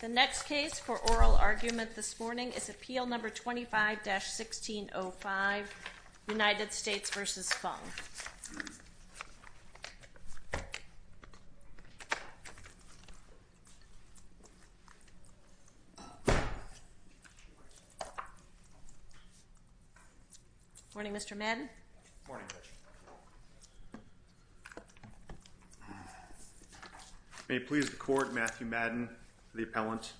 The next case for oral argument this morning is Appeal No. 25-1605, United States v. Fung. Morning, Mr. Madden. Morning, Judge. May it please the Court, Matthew Madden, the appellant.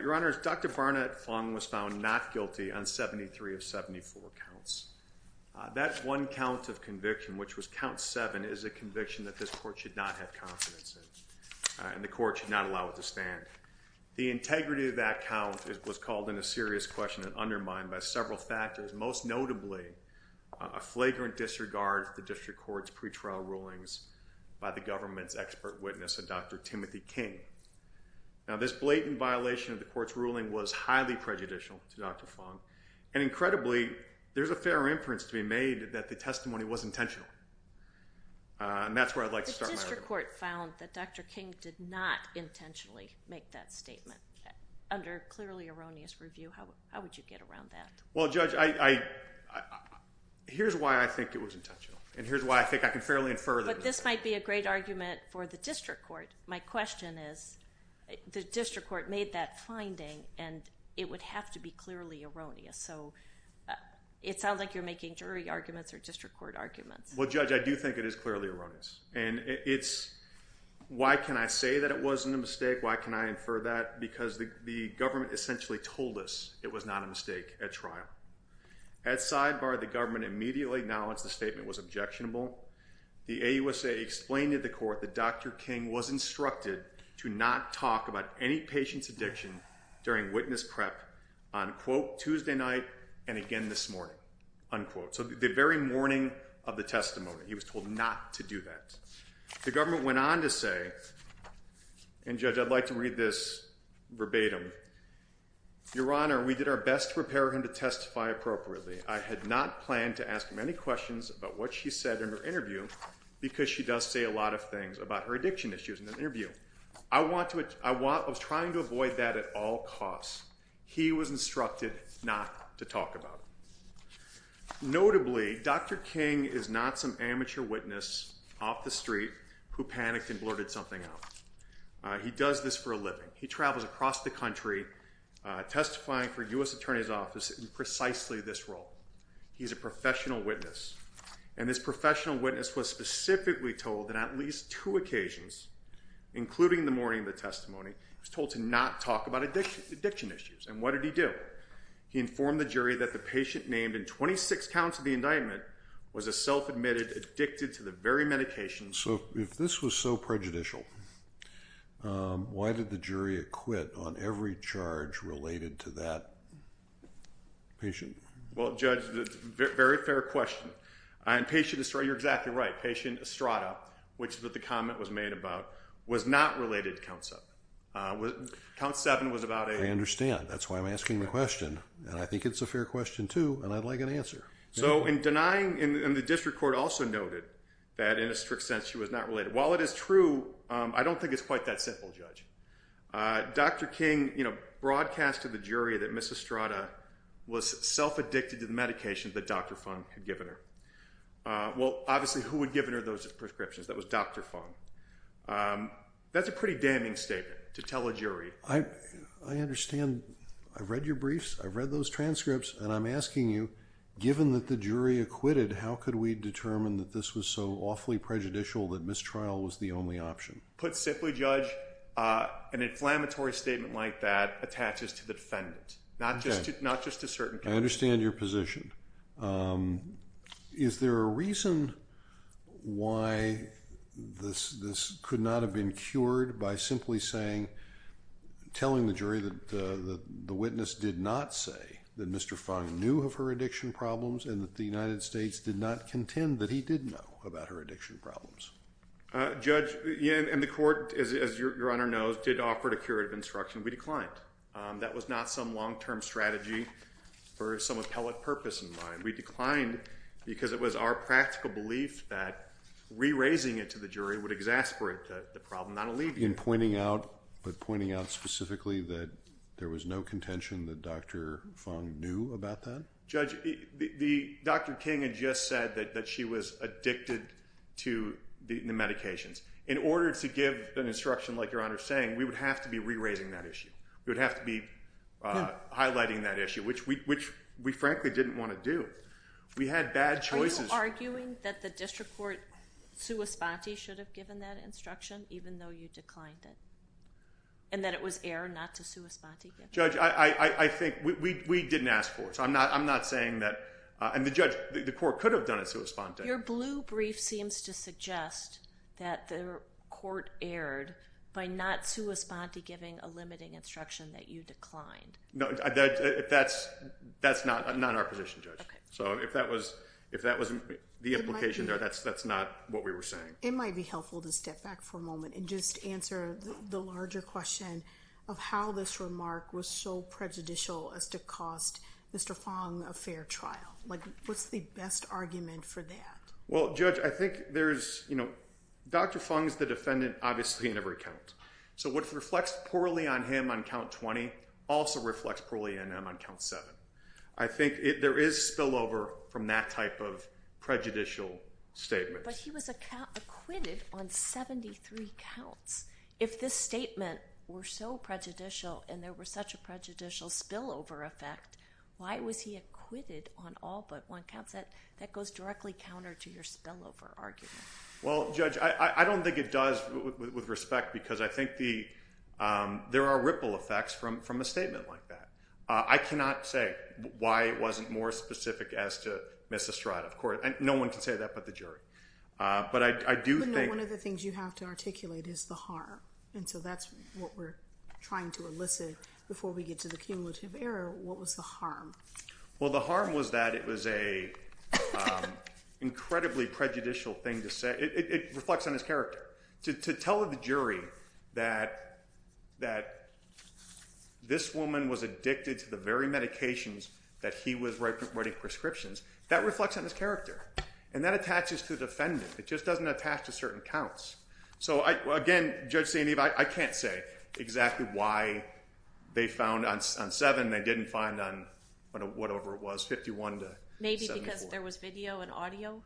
Your Honors, Dr. Barnett Fung was found not guilty on 73 of 74 counts. That one count of conviction, which was count 7, is a conviction that this Court should not have confidence in, and the Court should not allow it to stand. The integrity of that count was called into serious question and undermined by several factors, most notably a flagrant disregard of the District Court's pretrial rulings by the government's expert witness, Dr. Timothy King. Now, this blatant violation of the Court's ruling was highly prejudicial to Dr. Fung, and incredibly, there's a fair inference to be made that the testimony was intentional. And that's where I'd like to start my argument. The District Court found that Dr. King did not intentionally make that statement. Under clearly erroneous review, how would you get around that? Well, Judge, here's why I think it was intentional, and here's why I think I can fairly infer that it was intentional. But this might be a great argument for the District Court. My question is, the District Court made that finding, and it would have to be clearly erroneous. So it sounds like you're making jury arguments or District Court arguments. Well, Judge, I do think it is clearly erroneous. Why can I say that it wasn't a mistake? Why can I infer that? Because the government essentially told us it was not a mistake at trial. At sidebar, the government immediately acknowledged the statement was objectionable. The AUSA explained to the Court that Dr. King was instructed to not talk about any patient's addiction during witness prep on, quote, Tuesday night and again this morning, unquote. So the very morning of the testimony, he was told not to do that. The government went on to say, and Judge, I'd like to read this verbatim. Your Honor, we did our best to prepare him to testify appropriately. I had not planned to ask him any questions about what she said in her interview because she does say a lot of things about her addiction issues in the interview. I was trying to avoid that at all costs. He was instructed not to talk about it. Notably, Dr. King is not some amateur witness off the street who panicked and blurted something out. He does this for a living. He travels across the country testifying for U.S. Attorney's Office in precisely this role. He's a professional witness, and this professional witness was specifically told that at least two occasions, including the morning of the testimony, he was told to not talk about addiction issues. And what did he do? He informed the jury that the patient named in 26 counts of the indictment was a self-admitted addicted to the very medications. So if this was so prejudicial, why did the jury acquit on every charge related to that patient? Well, Judge, it's a very fair question. You're exactly right. Patient Estrada, which the comment was made about, was not related to Count 7. Count 7 was about a— I understand. That's why I'm asking the question, and I think it's a fair question, too, and I'd like an answer. So in denying—and the district court also noted that in a strict sense she was not related. While it is true, I don't think it's quite that simple, Judge. Dr. King, you know, broadcast to the jury that Ms. Estrada was self-addicted to the medications that Dr. Fung had given her. Well, obviously, who had given her those prescriptions? That was Dr. Fung. That's a pretty damning statement to tell a jury. I understand. I've read your briefs. I've read those transcripts, and I'm asking you, given that the jury acquitted, how could we determine that this was so awfully prejudicial that mistrial was the only option? Put simply, Judge, an inflammatory statement like that attaches to the defendant, not just a certain— I understand your position. Is there a reason why this could not have been cured by simply saying, telling the jury that the witness did not say that Mr. Fung knew of her addiction problems and that the United States did not contend that he did know about her addiction problems? Judge, and the court, as Your Honor knows, did offer a curative instruction. We declined. That was not some long-term strategy for some appellate purpose in mind. We declined because it was our practical belief that re-raising it to the jury would exasperate the problem, not alleviate it. But pointing out specifically that there was no contention that Dr. Fung knew about that? Judge, Dr. King had just said that she was addicted to the medications. In order to give an instruction like Your Honor is saying, we would have to be re-raising that issue. We would have to be highlighting that issue, which we frankly didn't want to do. We had bad choices. Are you arguing that the district court sua sponte should have given that instruction, even though you declined it, and that it was error not to sua sponte give it? Judge, I think we didn't ask for it, so I'm not saying that—and the judge, the court could have done it sua sponte. Your blue brief seems to suggest that the court erred by not sua sponte giving a limiting instruction that you declined. No, that's not our position, Judge. Okay. So if that wasn't the implication there, that's not what we were saying. It might be helpful to step back for a moment and just answer the larger question of how this remark was so prejudicial as to cost Mr. Fung a fair trial. What's the best argument for that? Well, Judge, I think there's—Dr. Fung is the defendant obviously in every count. So what reflects poorly on him on count 20 also reflects poorly on him on count 7. I think there is spillover from that type of prejudicial statement. But he was acquitted on 73 counts. If this statement were so prejudicial and there was such a prejudicial spillover effect, why was he acquitted on all but one count? That goes directly counter to your spillover argument. Well, Judge, I don't think it does with respect because I think there are ripple effects from a statement like that. I cannot say why it wasn't more specific as to Miss Estrada, of course. No one can say that but the jury. But I do think— One of the things you have to articulate is the horror, and so that's what we're trying to elicit before we get to the cumulative error. What was the harm? Well, the harm was that it was an incredibly prejudicial thing to say. It reflects on his character. To tell the jury that this woman was addicted to the very medications that he was writing prescriptions, that reflects on his character, and that attaches to the defendant. It just doesn't attach to certain counts. So, again, Judge St. Eve, I can't say exactly why they found on seven they didn't find on whatever it was, 51 to 74. Maybe because there was video and audio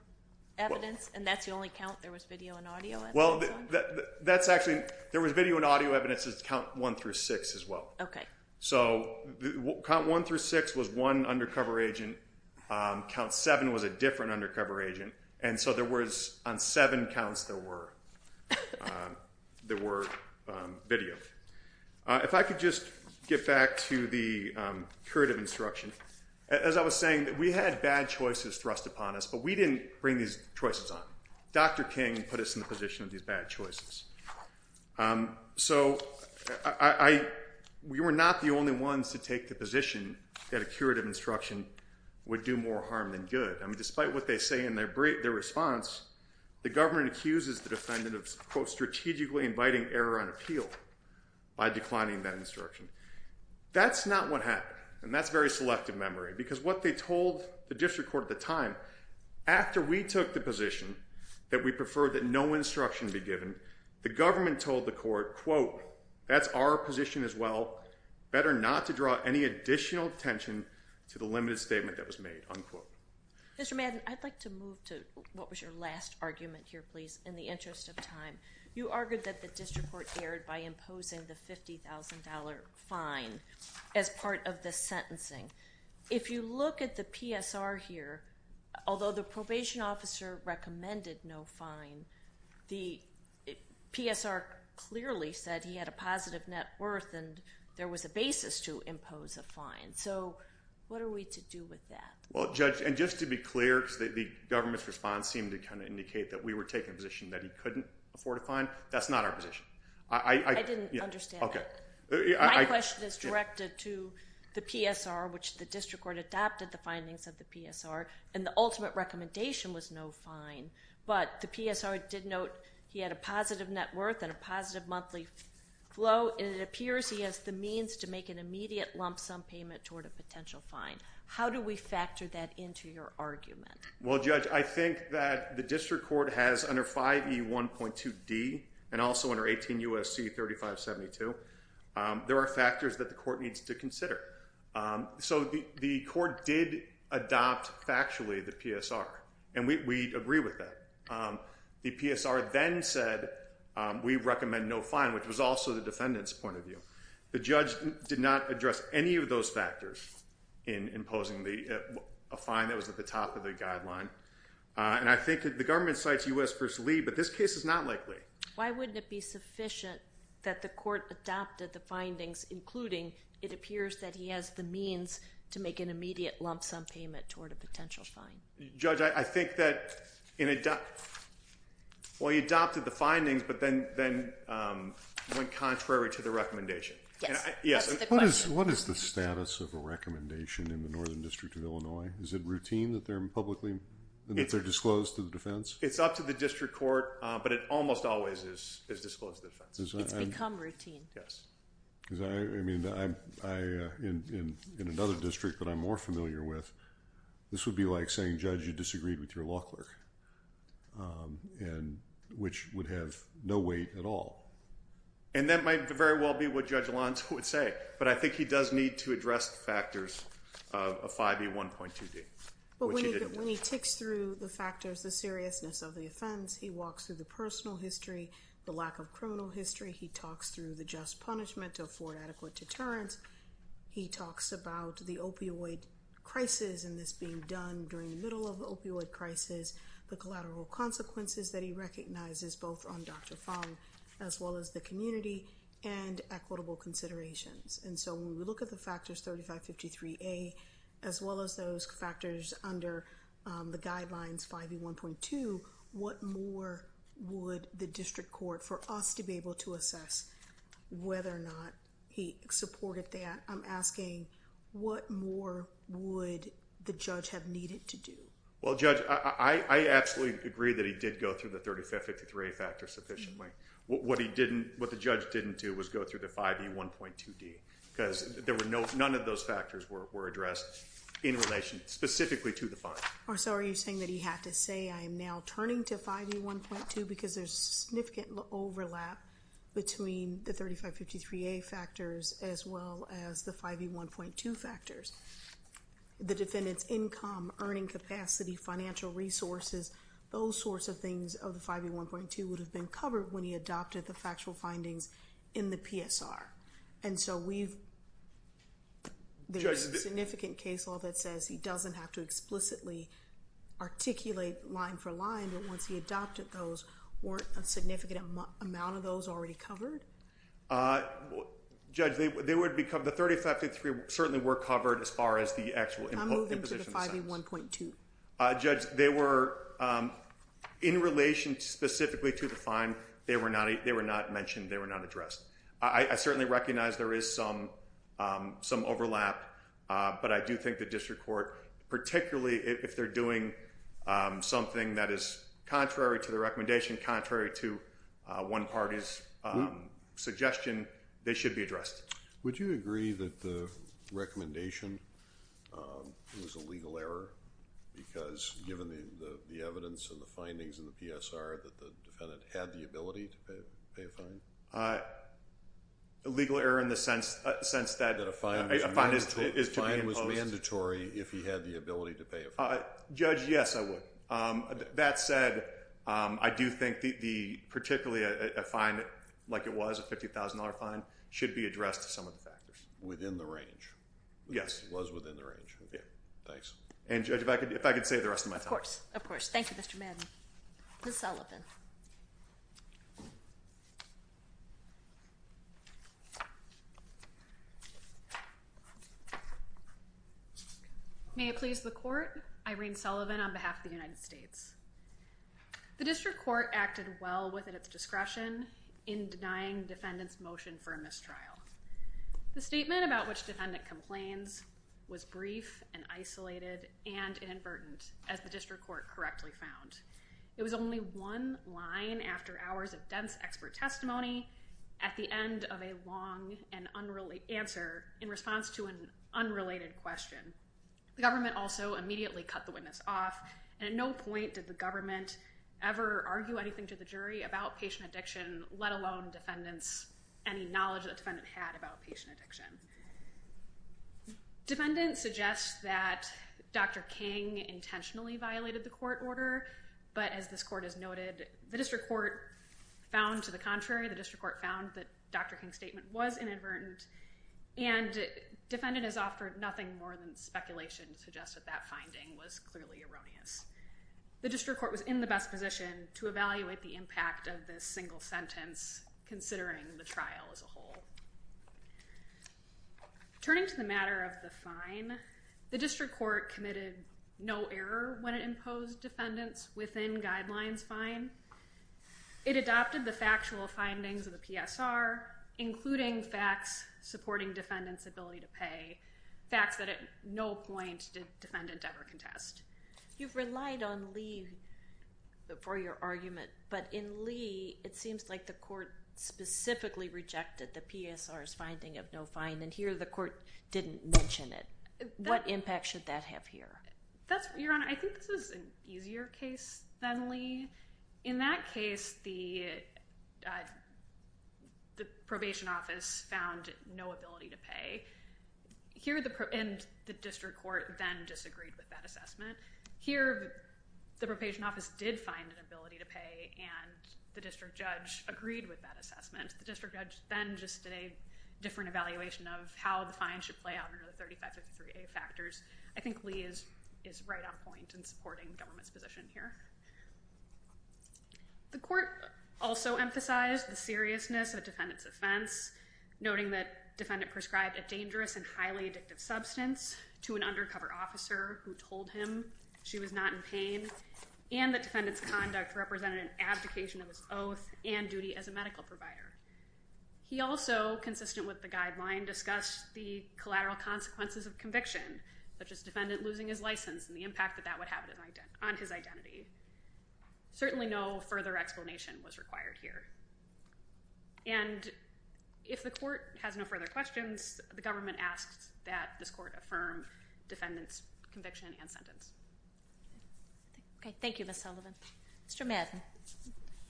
evidence, and that's the only count there was video and audio evidence on? Well, that's actually—there was video and audio evidence at count one through six as well. Okay. So count one through six was one undercover agent. Count seven was a different undercover agent. And so there was—on seven counts there were video. If I could just get back to the curative instruction. As I was saying, we had bad choices thrust upon us, but we didn't bring these choices on. Dr. King put us in the position of these bad choices. So we were not the only ones to take the position that a curative instruction would do more harm than good. I mean, despite what they say in their response, the government accuses the defendant of, quote, strategically inviting error on appeal by declining that instruction. That's not what happened, and that's very selective memory, because what they told the district court at the time, after we took the position that we prefer that no instruction be given, the government told the court, quote, that's our position as well. Better not to draw any additional attention to the limited statement that was made, unquote. Mr. Madden, I'd like to move to what was your last argument here, please, in the interest of time. You argued that the district court erred by imposing the $50,000 fine as part of the sentencing. If you look at the PSR here, although the probation officer recommended no fine, the PSR clearly said he had a positive net worth and there was a basis to impose a fine. So what are we to do with that? Well, Judge, and just to be clear, because the government's response seemed to kind of indicate that we were taking a position that he couldn't afford a fine. That's not our position. I didn't understand that. My question is directed to the PSR, which the district court adopted the findings of the PSR, and the ultimate recommendation was no fine. But the PSR did note he had a positive net worth and a positive monthly flow, and it appears he has the means to make an immediate lump sum payment toward a potential fine. How do we factor that into your argument? Well, Judge, I think that the district court has under 5E1.2D and also under 18 U.S.C. 3572, there are factors that the court needs to consider. So the court did adopt factually the PSR, and we agree with that. The PSR then said we recommend no fine, which was also the defendant's point of view. The judge did not address any of those factors in imposing a fine that was at the top of the guideline, and I think the government cites U.S. v. Lee, but this case is not likely. Why wouldn't it be sufficient that the court adopted the findings, including it appears that he has the means to make an immediate lump sum payment toward a potential fine? Judge, I think that, well, he adopted the findings, but then went contrary to the recommendation. Yes, that's the question. What is the status of a recommendation in the Northern District of Illinois? Is it routine that they're publicly disclosed to the defense? It's up to the district court, but it almost always is disclosed to the defense. It's become routine. I mean, in another district that I'm more familiar with, this would be like saying, Judge, you disagreed with your law clerk, which would have no weight at all. And that might very well be what Judge Alonso would say, but I think he does need to address the factors of 5E1.2D, which he didn't do. When he ticks through the factors, the seriousness of the offense, he walks through the personal history, the lack of criminal history. He talks through the just punishment to afford adequate deterrence. He talks about the opioid crisis and this being done during the middle of the opioid crisis, the collateral consequences that he recognizes, both on Dr. Fung, as well as the community, and equitable considerations. And so when we look at the factors 3553A, as well as those factors under the guidelines 5E1.2, what more would the district court, for us to be able to assess whether or not he supported that? I'm asking, what more would the judge have needed to do? Well, Judge, I absolutely agree that he did go through the 3553A factors sufficiently. What the judge didn't do was go through the 5E1.2D, because none of those factors were addressed in relation specifically to the fine. So are you saying that he had to say, I am now turning to 5E1.2, because there's significant overlap between the 3553A factors, as well as the 5E1.2 factors? The defendant's income, earning capacity, financial resources, those sorts of things of the 5E1.2 would have been covered when he adopted the factual findings in the PSR. And so there's significant case law that says he doesn't have to explicitly articulate line for line, but once he adopted those, weren't a significant amount of those already covered? Judge, the 3553A certainly were covered as far as the actual imposition of sentence. I'm moving to the 5E1.2. Judge, they were in relation specifically to the fine. They were not mentioned. They were not addressed. I certainly recognize there is some overlap, but I do think the district court, particularly if they're doing something that is contrary to the recommendation, contrary to one party's suggestion, they should be addressed. Would you agree that the recommendation was a legal error, because given the evidence and the findings in the PSR that the defendant had the ability to pay a fine? A legal error in the sense that a fine is to be imposed. The fine was mandatory if he had the ability to pay a fine. Judge, yes, I would. That said, I do think particularly a fine like it was, a $50,000 fine, should be addressed to some of the factors. Within the range. Yes. It was within the range. Okay. Thanks. And, Judge, if I could save the rest of my time. Of course. Of course. Thank you, Mr. Madden. Ms. Sullivan. May it please the court. Irene Sullivan on behalf of the United States. The district court acted well within its discretion in denying the defendant's motion for a mistrial. The statement about which defendant complains was brief and isolated and inadvertent, as the district court correctly found. It was only one line after hours of dense expert testimony at the end of a long and unrelated answer in response to an unrelated question. The government also immediately cut the witness off, and at no point did the government ever argue anything to the jury about patient addiction, let alone defendants any knowledge that the defendant had about patient addiction. Defendant suggests that Dr. King intentionally violated the court order, but as this court has noted, the district court found to the contrary. The district court found that Dr. King's statement was inadvertent, and defendant has offered nothing more than speculation to suggest that that finding was clearly erroneous. The district court was in the best position to evaluate the impact of this single sentence, considering the trial as a whole. Turning to the matter of the fine, the district court committed no error when it imposed defendants within guidelines fine. It adopted the factual findings of the PSR, including facts supporting defendant's ability to pay, facts that at no point did defendant ever contest. You've relied on Lee for your argument, but in Lee, it seems like the court specifically rejected the PSR's finding of no fine, and here the court didn't mention it. What impact should that have here? Your Honor, I think this is an easier case than Lee. In that case, the probation office found no ability to pay, and the district court then disagreed with that assessment. Here, the probation office did find an ability to pay, and the district judge agreed with that assessment. The district judge then just did a different evaluation of how the fine should play out under the 3553A factors. I think Lee is right on point in supporting government's position here. The court also emphasized the seriousness of defendant's offense, noting that defendant prescribed a dangerous and highly addictive substance to an undercover officer who told him she was not in pain, and that defendant's conduct represented an abdication of his oath and duty as a medical provider. He also, consistent with the guideline, discussed the collateral consequences of conviction, such as defendant losing his license and the impact that that would have on his identity. Certainly no further explanation was required here. And if the court has no further questions, the government asks that this court affirm defendant's conviction and sentence. Okay. Thank you, Ms. Sullivan. Mr. Madden,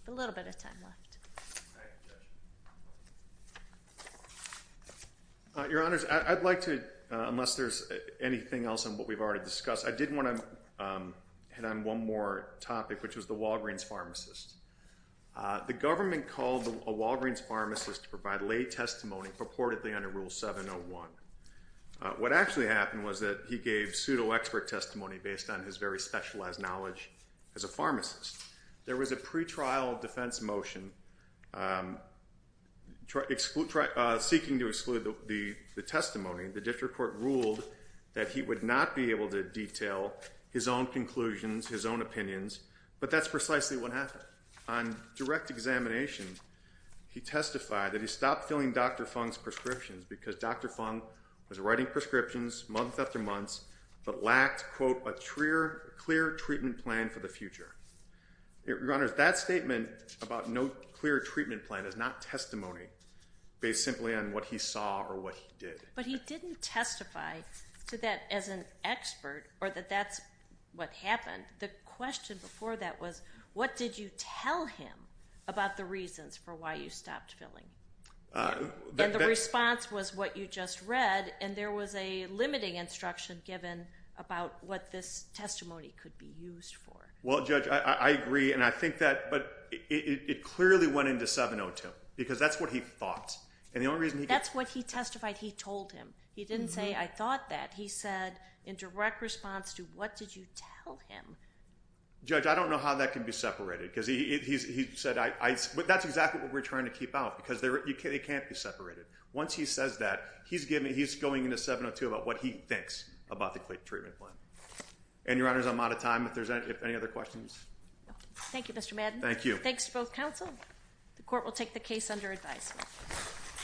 a little bit of time left. Your Honors, I'd like to, unless there's anything else on what we've already discussed, I did want to hit on one more topic, which was the Walgreens pharmacist. The government called a Walgreens pharmacist to provide lay testimony purportedly under Rule 701. What actually happened was that he gave pseudo-expert testimony based on his very specialized knowledge as a pharmacist. There was a pretrial defense motion seeking to exclude the testimony. The district court ruled that he would not be able to detail his own conclusions, his own opinions, but that's precisely what happened. On direct examination, he testified that he stopped filling Dr. Fung's prescriptions because Dr. Fung was writing prescriptions month after month but lacked, quote, a clear treatment plan for the future. Your Honors, that statement about no clear treatment plan is not testimony based simply on what he saw or what he did. But he didn't testify to that as an expert or that that's what happened. The question before that was, what did you tell him about the reasons for why you stopped filling? And the response was what you just read, and there was a limiting instruction given about what this testimony could be used for. Well, Judge, I agree, and I think that, but it clearly went into 702 because that's what he thought. That's what he testified he told him. He didn't say, I thought that. He said in direct response to what did you tell him? Judge, I don't know how that can be separated because he said, but that's exactly what we're trying to keep out because it can't be separated. Once he says that, he's going into 702 about what he thinks about the clear treatment plan. And, Your Honors, I'm out of time if there's any other questions. Thank you, Mr. Madden. Thank you. Thanks to both counsel. The court will take the case under advisement.